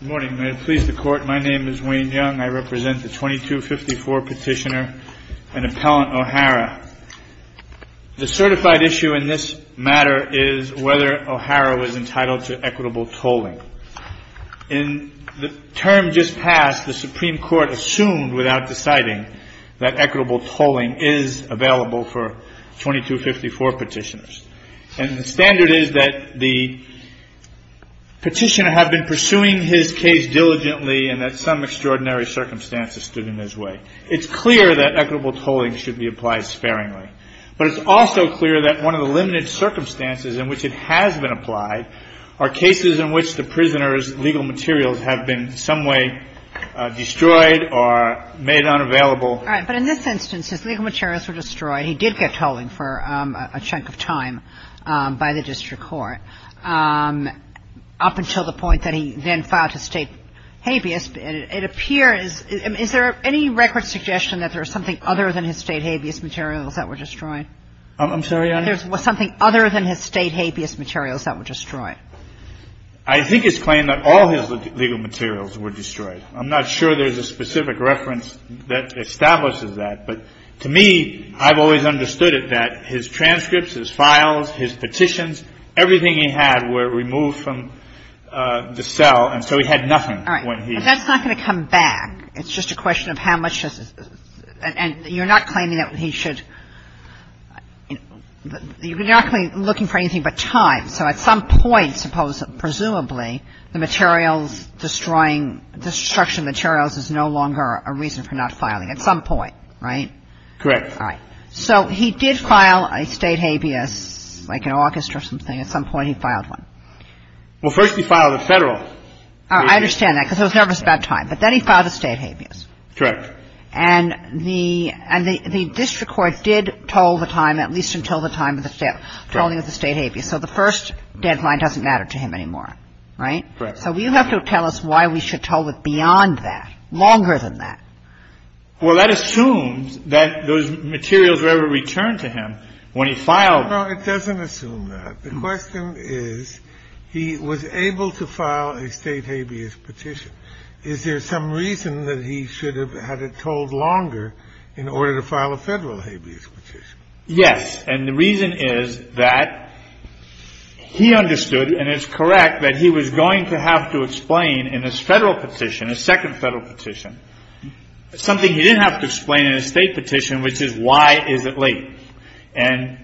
Good morning. May it please the Court, my name is Wayne Young. I represent the 2254 petitioner and appellant O'hara. The certified issue in this matter is whether O'hara was entitled to equitable tolling. In the term just passed, the Supreme Court assumed without deciding that equitable tolling is available for 2254 petitioners. And the standard is that the petitioner had been pursuing his case diligently and that some extraordinary circumstances stood in his way. It's clear that equitable tolling should be applied sparingly. But it's also clear that one of the limited circumstances in which it has been applied are cases in which the prisoner's legal materials have been in some way destroyed or made unavailable. All right. But in this instance, his legal materials were destroyed. He did get tolling for a chunk of time by the district court up until the point that he then filed his state habeas. It appears. Is there any record suggestion that there is something other than his state habeas materials that were destroyed? I'm sorry, Your Honor. There's something other than his state habeas materials that were destroyed. I think it's claimed that all his legal materials were destroyed. I'm not sure there's a specific reference that establishes that. But to me, I've always understood it, that his transcripts, his files, his petitions, everything he had were removed from the cell. And so he had nothing when he was. All right. But that's not going to come back. It's just a question of how much has his – and you're not claiming that he should – you're not looking for anything but time. So at some point, presumably, the materials destroying – destruction of materials is no longer a reason for not filing. At some point, right? Correct. All right. So he did file a state habeas, like an orchestra or something. At some point, he filed one. Well, first he filed a Federal habeas. I understand that, because he was nervous about time. But then he filed a state habeas. Correct. And the district court did toll the time, at least until the time of the state – tolling of the state habeas. So the first deadline doesn't matter to him anymore. Right? Correct. So you have to tell us why we should toll it beyond that, longer than that. Well, that assumes that those materials were ever returned to him when he filed. No, it doesn't assume that. The question is, he was able to file a state habeas petition. Is there some reason that he should have had it tolled longer in order to file a Federal habeas petition? Yes. And the reason is that he understood, and it's correct, that he was going to have to explain in his Federal petition, his second Federal petition, something he didn't have to explain in his state petition, which is, why is it late? And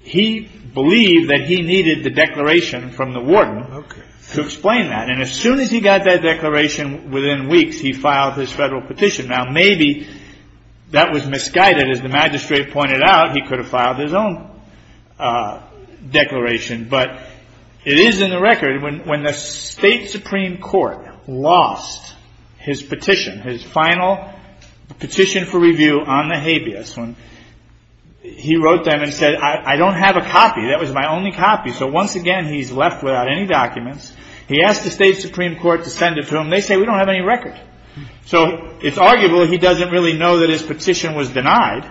he believed that he needed the declaration from the warden to explain that. And as soon as he got that declaration, within weeks, he filed his Federal petition. Now, maybe that was misguided. As the magistrate pointed out, he could have filed his own declaration. But it is in the record, when the State Supreme Court lost his petition, his final petition for review on the habeas, he wrote them and said, I don't have a copy. That was my only copy. So once again, he's left without any documents. He asked the State Supreme Court to send it to him. They say, we don't have any record. So it's arguable he doesn't really know that his petition was denied.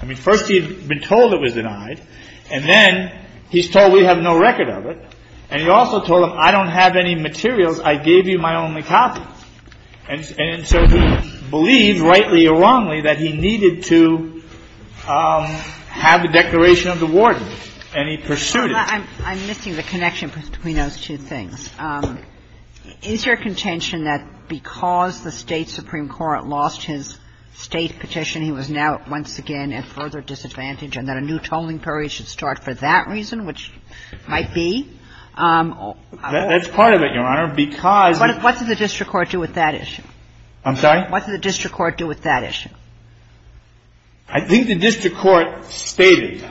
I mean, first he had been told it was denied. And then he's told, we have no record of it. And he also told them, I don't have any materials. I gave you my only copy. And so he believed, rightly or wrongly, that he needed to have the declaration of the warden, and he pursued it. I'm missing the connection between those two things. Is your contention that because the State Supreme Court lost his State petition, he was now once again at further disadvantage, and that a new tolling period should start for that reason, which might be? That's part of it, Your Honor, because the ---- What did the district court do with that issue? What did the district court do with that issue? I think the district court stated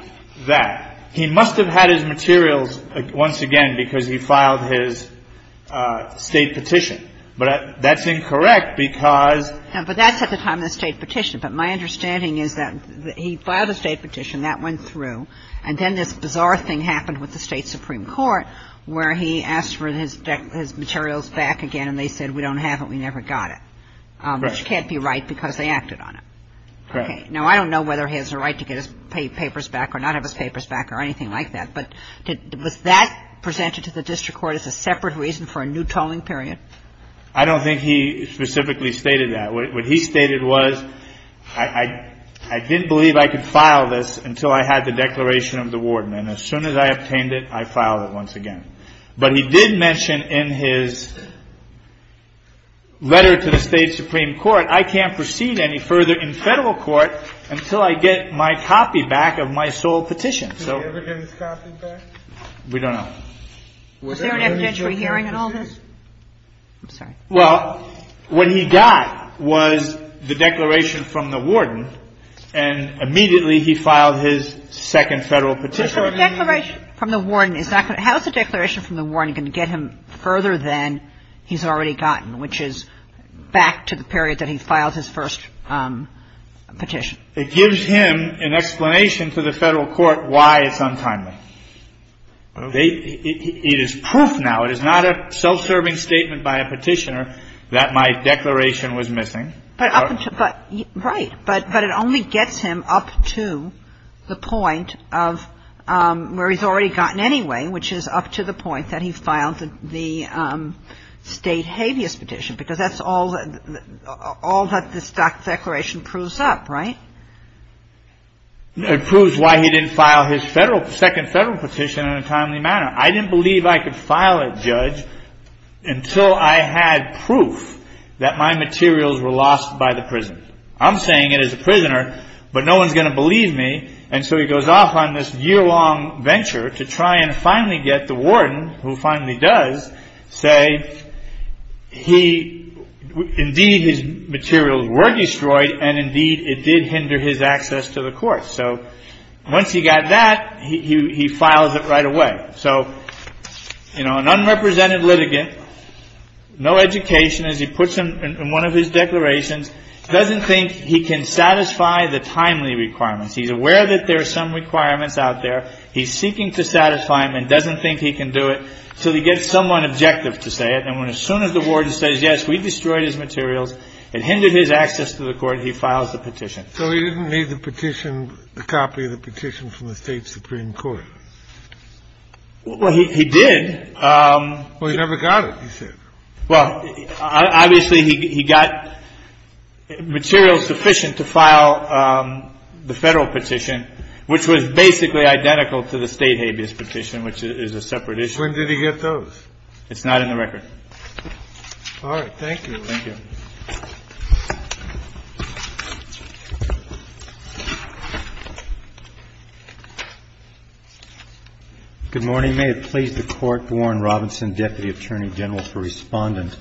that he must have had his materials once again because he filed his State petition. But that's incorrect because ---- But that's at the time of the State petition. But my understanding is that he filed a State petition. That went through. And then this bizarre thing happened with the State Supreme Court where he asked for his materials back again, and they said, we don't have it, we never got it. Right. Which can't be right because they acted on it. Correct. Now, I don't know whether he has the right to get his papers back or not have his papers back or anything like that, but was that presented to the district court as a separate reason for a new tolling period? I don't think he specifically stated that. What he stated was, I didn't believe I could file this until I had the declaration of the warden. And as soon as I obtained it, I filed it once again. But he did mention in his letter to the State Supreme Court, I can't proceed any further in Federal court until I get my copy back of my sole petition. Did he ever get his copy back? We don't know. Was there an evidentiary hearing in all this? I'm sorry. Well, what he got was the declaration from the warden, and immediately he filed his second Federal petition. But the declaration from the warden is not going to ---- How is the declaration from the warden going to get him further than he's already gotten, which is back to the period that he filed his first petition? It gives him an explanation to the Federal court why it's untimely. It is proof now. It is not a self-serving statement by a petitioner that my declaration was missing. Right. But it only gets him up to the point of where he's already gotten anyway, which is up to the point that he filed the State habeas petition, because that's all that this declaration proves up, right? It proves why he didn't file his Federal ---- second Federal petition in a timely manner. I didn't believe I could file it, Judge, until I had proof that my materials were lost by the prison. I'm saying it as a prisoner, but no one's going to believe me. And so he goes off on this year-long venture to try and finally get the warden, who finally does, say he ---- indeed, his materials were destroyed, and indeed, it did hinder his access to the court. So once he got that, he files it right away. So, you know, an unrepresented litigant, no education, as he puts it in one of his declarations, doesn't think he can satisfy the timely requirements. He's aware that there are some requirements out there. He's seeking to satisfy them and doesn't think he can do it until he gets someone objective to say it. And as soon as the warden says, yes, we destroyed his materials, it hindered his access to the court, he files the petition. So he didn't need the petition, the copy of the petition from the State Supreme Court. Well, he did. Well, he never got it, he said. Well, obviously, he got materials sufficient to file the Federal petition, which was basically identical to the State habeas petition, which is a separate issue. When did he get those? It's not in the record. All right. Thank you. Good morning. May it please the Court, Warren Robinson, Deputy Attorney General for Respondent.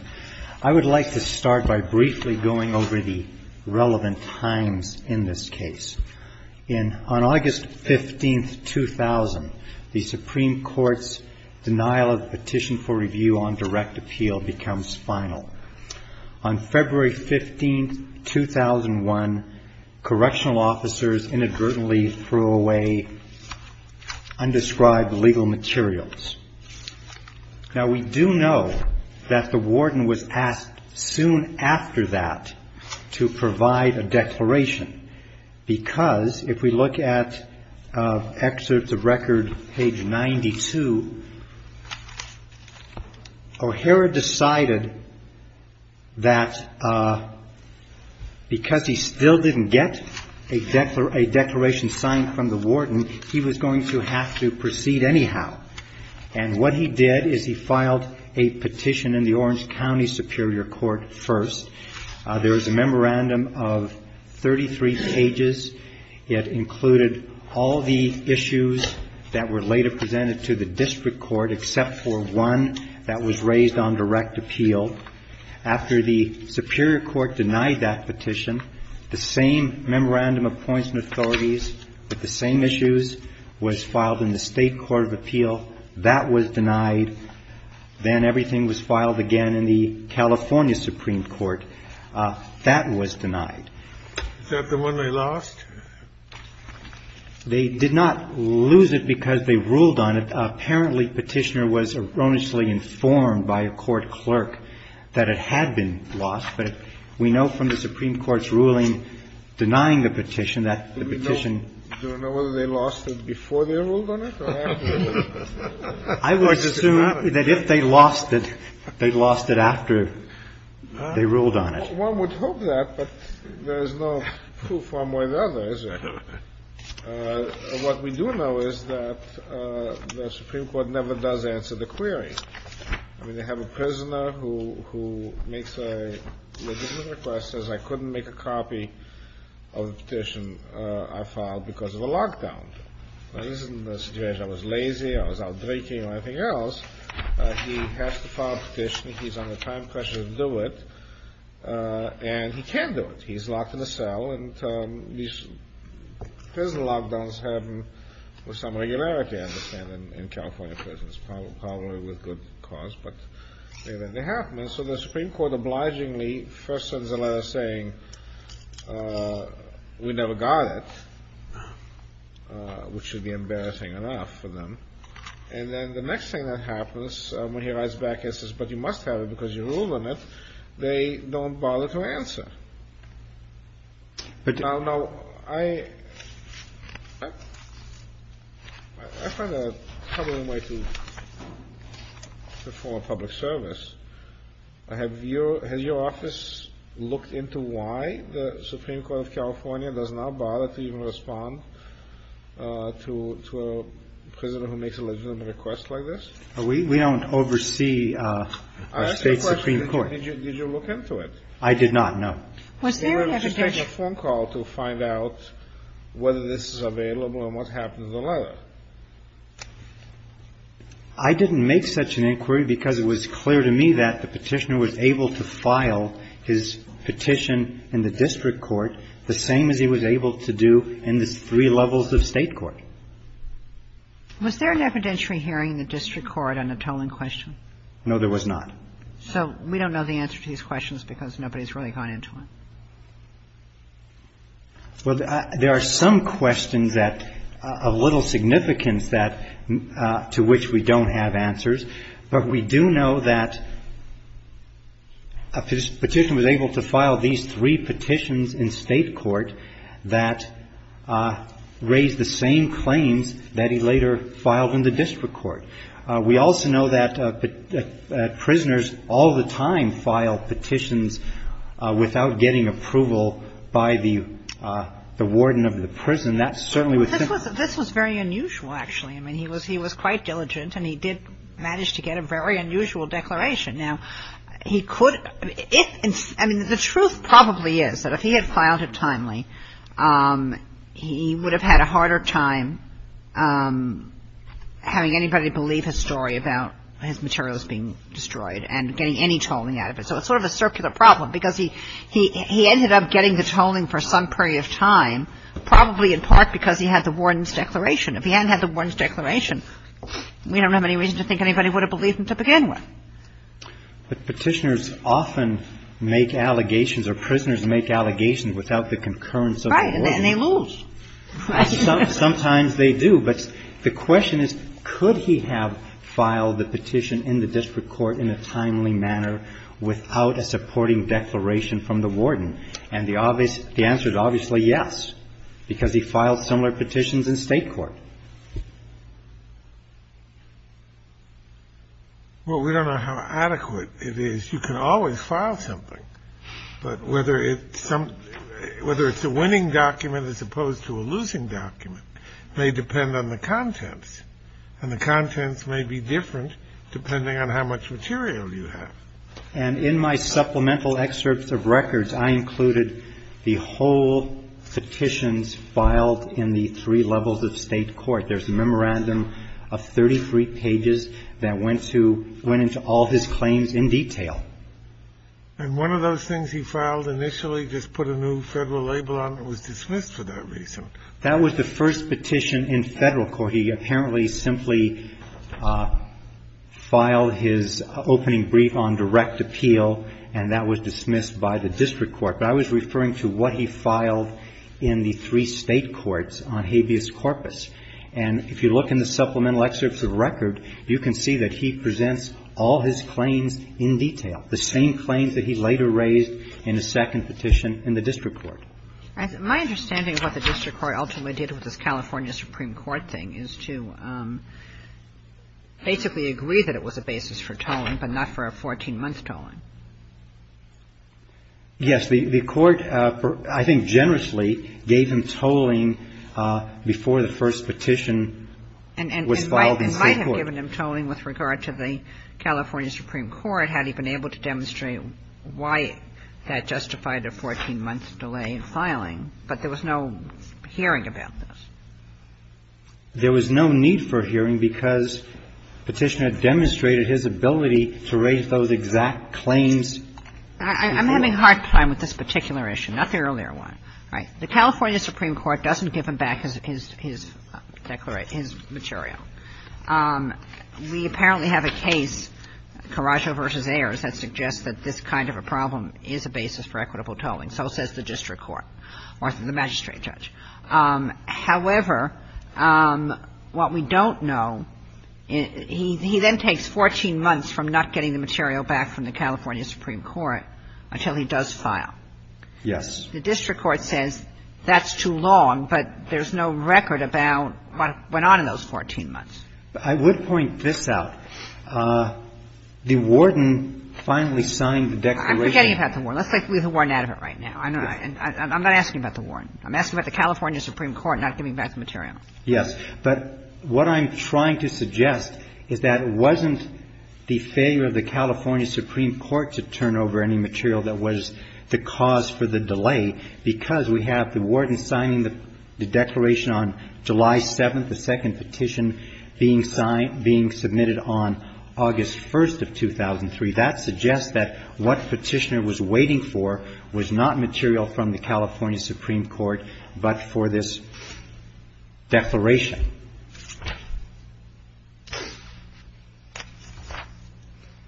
I would like to start by briefly going over the relevant times in this case. On August 15, 2000, the Supreme Court's denial of the petition for review on direct appeal becomes final. On February 15, 2001, correctional officers inadvertently threw away undescribed legal materials. Now, we do know that the warden was asked soon after that to provide a declaration because, if we look at excerpts of record page 92, O'Hara decided that because he still didn't get a declaration signed from the warden, he was going to have to proceed anyhow. And what he did is he filed a petition in the Orange County Superior Court first. There was a memorandum of 33 pages. It included all the issues that were later presented to the district court except for one that was raised on direct appeal. After the Superior Court denied that petition, the same memorandum of points and authorities with the same issues was filed in the State Court of Appeal. That was denied. Then everything was filed again in the California Supreme Court. That was denied. Is that the one they lost? They did not lose it because they ruled on it. Apparently, Petitioner was erroneously informed by a court clerk that it had been lost, but we know from the Supreme Court's ruling denying the petition that the petition had been lost. Do you know whether they lost it before they ruled on it or after they ruled on it? I would assume that if they lost it, they lost it after they ruled on it. One would hope that, but there is no proof far more than others. What we do know is that the Supreme Court never does answer the query. I mean, they have a prisoner who makes a legitimate request, says, I couldn't make a copy of the petition I filed because of a lockdown. I was lazy, I was out drinking, and everything else. He has to file a petition. He's under time pressure to do it, and he can't do it. He's locked in a cell, and these prison lockdowns happen with some regularity, I understand, in California prisons. Probably with good cause, but they happen. And so the Supreme Court obligingly first sends a letter saying we never got it, which should be embarrassing enough for them. And then the next thing that happens when he writes back and says, but you must have it because you ruled on it, they don't bother to answer. Now, I find a troubling way to perform public service. Has your office looked into why the Supreme Court of California does not bother to even respond to a prisoner who makes a legitimate request like this? We don't oversee our State's Supreme Court. Did you look into it? I did not, no. We were able to take a phone call to find out whether this is available and what happened to the letter. I didn't make such an inquiry because it was clear to me that the Petitioner was able to file his petition in the district court the same as he was able to do in the three levels of State court. Was there an evidentiary hearing in the district court on a tolling question? No, there was not. So we don't know the answer to these questions because nobody has really gone into them. Well, there are some questions that of little significance that to which we don't have answers, but we do know that a Petitioner was able to file these three petitions in State court that raised the same claims that he later filed in the district court. We also know that prisoners all the time file petitions without getting approval by the warden of the prison. That certainly was the case. This was very unusual, actually. I mean, he was quite diligent and he did manage to get a very unusual declaration. Now, he could – I mean, the truth probably is that if he had filed it timely, he would have had a harder time having anybody believe his story about his materials being destroyed and getting any tolling out of it. So it's sort of a circular problem because he ended up getting the tolling for some period of time, probably in part because he had the warden's declaration. If he hadn't had the warden's declaration, we don't have any reason to think anybody would have believed him to begin with. But Petitioners often make allegations or prisoners make allegations without the concurrence of the warden. And they lose. Sometimes they do. But the question is, could he have filed the petition in the district court in a timely manner without a supporting declaration from the warden? And the answer is obviously yes, because he filed similar petitions in State court. Well, we don't know how adequate it is. You can always file something. But whether it's a winning document as opposed to a losing document may depend on the contents, and the contents may be different depending on how much material you have. And in my supplemental excerpts of records, I included the whole petitions filed in the three levels of State court. There's a memorandum of 33 pages that went into all his claims in detail. And one of those things he filed initially just put a new Federal label on it. It was dismissed for that reason. That was the first petition in Federal court. He apparently simply filed his opening brief on direct appeal, and that was dismissed by the district court. But I was referring to what he filed in the three State courts on habeas corpus. And if you look in the supplemental excerpts of record, you can see that he presents all his claims in detail, the same claims that he later raised in his second petition in the district court. My understanding of what the district court ultimately did with this California Supreme Court thing is to basically agree that it was a basis for tolling, but not for a 14-month tolling. Yes. The court, I think generously, gave him tolling before the first petition was filed in State court. I have given him tolling with regard to the California Supreme Court, had he been able to demonstrate why that justified a 14-month delay in filing. But there was no hearing about this. There was no need for hearing because Petitioner demonstrated his ability to raise those exact claims before. I'm having a hard time with this particular issue, not the earlier one. All right. The California Supreme Court doesn't give him back his declaration, his material. We apparently have a case, Coraggio v. Ayers, that suggests that this kind of a problem is a basis for equitable tolling. So says the district court or the magistrate judge. However, what we don't know, he then takes 14 months from not getting the material back from the California Supreme Court until he does file. Yes. The district court says that's too long, but there's no record about what went on in those 14 months. I would point this out. The warden finally signed the declaration. I'm forgetting about the warden. Let's take the warden out of it right now. I'm not asking about the warden. I'm asking about the California Supreme Court not giving back the material. Yes. But what I'm trying to suggest is that it wasn't the failure of the California Supreme Court to turn over any material that was the cause for the delay because we have the warden signing the declaration on July 7th, the second petition being signed, being submitted on August 1st of 2003. That suggests that what Petitioner was waiting for was not material from the California Supreme Court but for this declaration.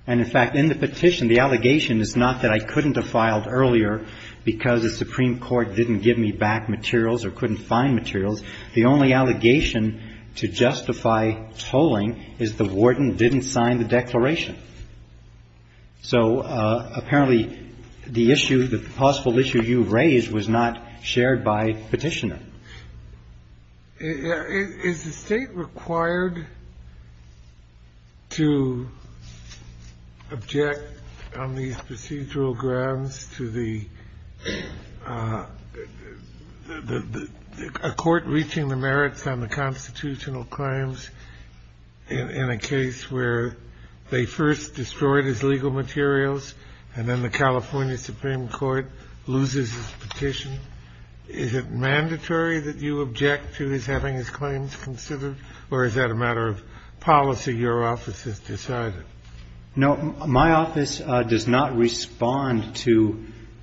And, in fact, in the petition, the allegation is not that I couldn't have filed earlier because the Supreme Court didn't give me back materials or couldn't find materials. The only allegation to justify tolling is the warden didn't sign the declaration. So, apparently, the issue, the possible issue you raised was not shared by Petitioner. Is the State required to object on these procedural grounds to the court reaching the merits on the constitutional claims in a case where they first destroyed his legal materials and then the California Supreme Court loses its petition? Is it mandatory that you object to his having his claims considered, or is that a matter of policy your office has decided? No. My office does not respond to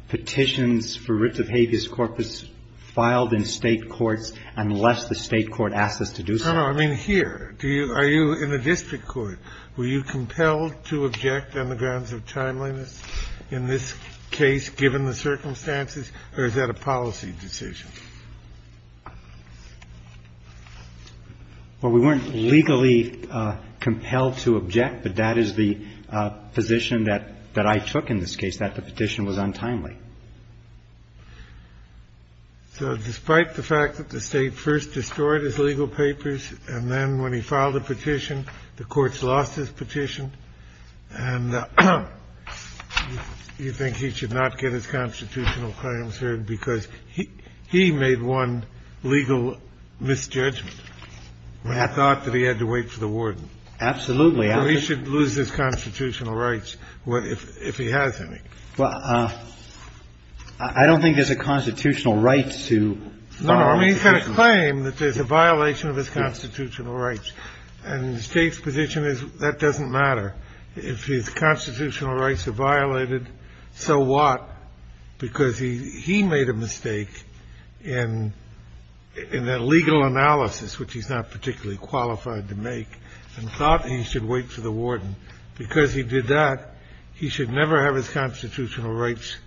petitions for writs of habeas corpus filed in State courts unless the State court asks us to do so. No, no. I mean, here, do you – are you in the district court? Were you compelled to object on the grounds of timeliness in this case, given the circumstances? Or is that a policy decision? Well, we weren't legally compelled to object, but that is the position that I took in this case, that the petition was untimely. So despite the fact that the State first destroyed his legal papers, and then when he filed a petition, the courts lost his petition, and you think he should not get his constitutional claims heard because he made one legal misjudgment. I thought that he had to wait for the warden. Absolutely. Or he should lose his constitutional rights if he has any. Well, I don't think there's a constitutional right to file a petition. No, no. I mean, he's got a claim that there's a violation of his constitutional rights, and the State's position is that doesn't matter. If his constitutional rights are violated, so what? Because he made a mistake in that legal analysis, which he's not particularly qualified to make, and thought he should wait for the warden. Because he did that, he should never have his constitutional rights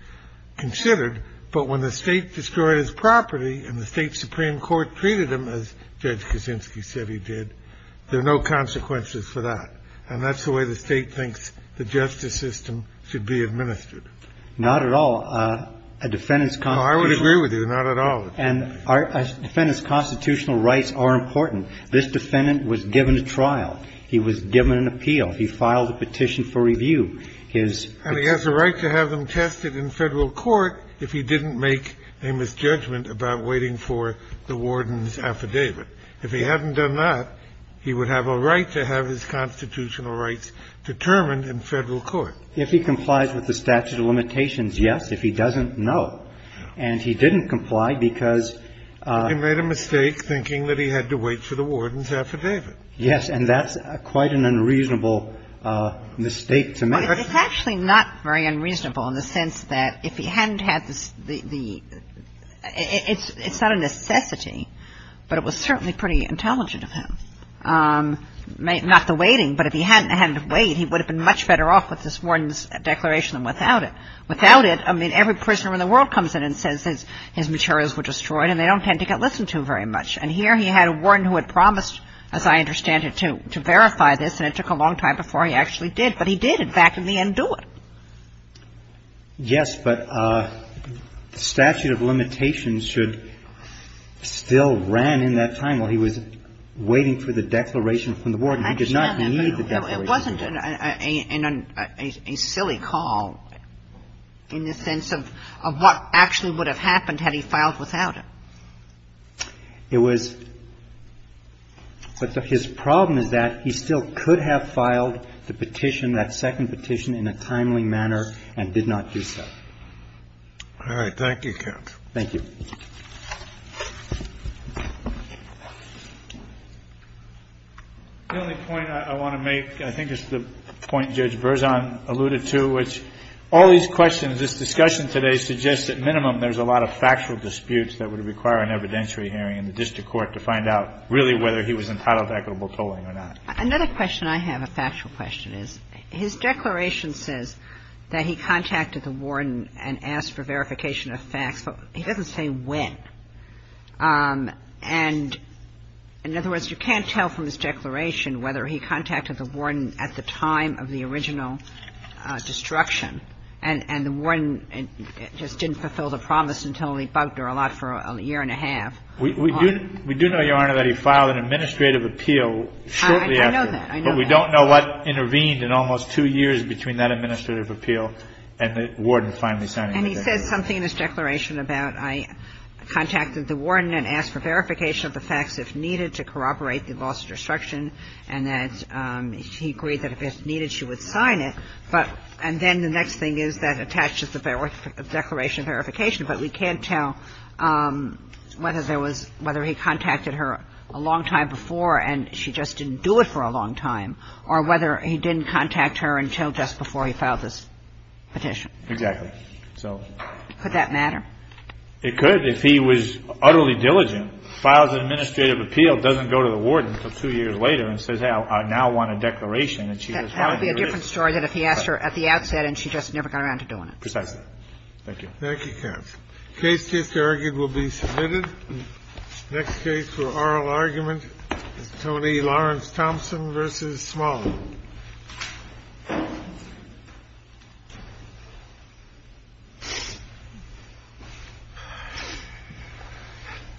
considered. But when the State destroyed his property and the State Supreme Court treated him as Judge Kaczynski said he did, there are no consequences for that. And that's the way the State thinks the justice system should be administered. Not at all. A defendant's constitutional rights are important. This defendant was given a trial. He was given an appeal. He filed a petition for review. And he has a right to have them tested in Federal court if he didn't make a misjudgment about waiting for the warden's affidavit. If he hadn't done that, he would have a right to have his constitutional rights determined in Federal court. If he complies with the statute of limitations, yes. If he doesn't, no. And he didn't comply because he made a mistake thinking that he had to wait for the warden's affidavit. Yes. And that's quite an unreasonable mistake to make. It's actually not very unreasonable in the sense that if he hadn't had the – it's not a necessity, but it was certainly pretty intelligent of him. Not the waiting, but if he hadn't had to wait, he would have been much better off with this warden's declaration than without it. Without it, I mean, every prisoner in the world comes in and says his materials were destroyed and they don't tend to get listened to very much. And here he had a warden who had promised, as I understand it, to verify this, and it took a long time before he actually did. But he did, in fact, in the end do it. Yes, but statute of limitations should still ran in that time while he was waiting for the declaration from the warden. He did not need the declaration. It wasn't a silly call in the sense of what actually would have happened had he filed without it. It was – but his problem is that he still could have filed the petition, that second petition, in a timely manner and did not do so. All right. Thank you, counsel. Thank you. The only point I want to make, I think it's the point Judge Berzon alluded to, which all these questions, this discussion today suggests at minimum there's a lot of factual disputes that would require an evidentiary hearing in the district court to find out really whether he was entitled to equitable tolling or not. Another question I have, a factual question, is his declaration says that he contacted the warden and asked for verification of facts, but he doesn't say when. And in other words, you can't tell from his declaration whether he contacted the warden at the time of the original destruction, and the warden just didn't fulfill the promise until he bugged her a lot for a year and a half. We do know, Your Honor, that he filed an administrative appeal shortly after. I know that. I know that. But we don't know what intervened in almost two years between that administrative appeal and the warden finally signing the declaration. And he says something in his declaration about I contacted the warden and asked for verification of the facts if needed to corroborate the loss of destruction and that he agreed that if needed she would sign it. But – and then the next thing is that attaches the declaration of verification, but we can't tell whether there was – whether he contacted her a long time before and she just didn't do it for a long time, or whether he didn't contact her until just before he filed this petition. Exactly. So – Could that matter? It could if he was utterly diligent, files an administrative appeal, doesn't go to the warden until two years later, and says, hey, I now want a declaration that she was – That would be a different story than if he asked her at the outset and she just never got around to doing it. Thank you. Thank you, counsel. Case just argued will be submitted. Next case for oral argument is Tony Lawrence-Thompson v. Smalley.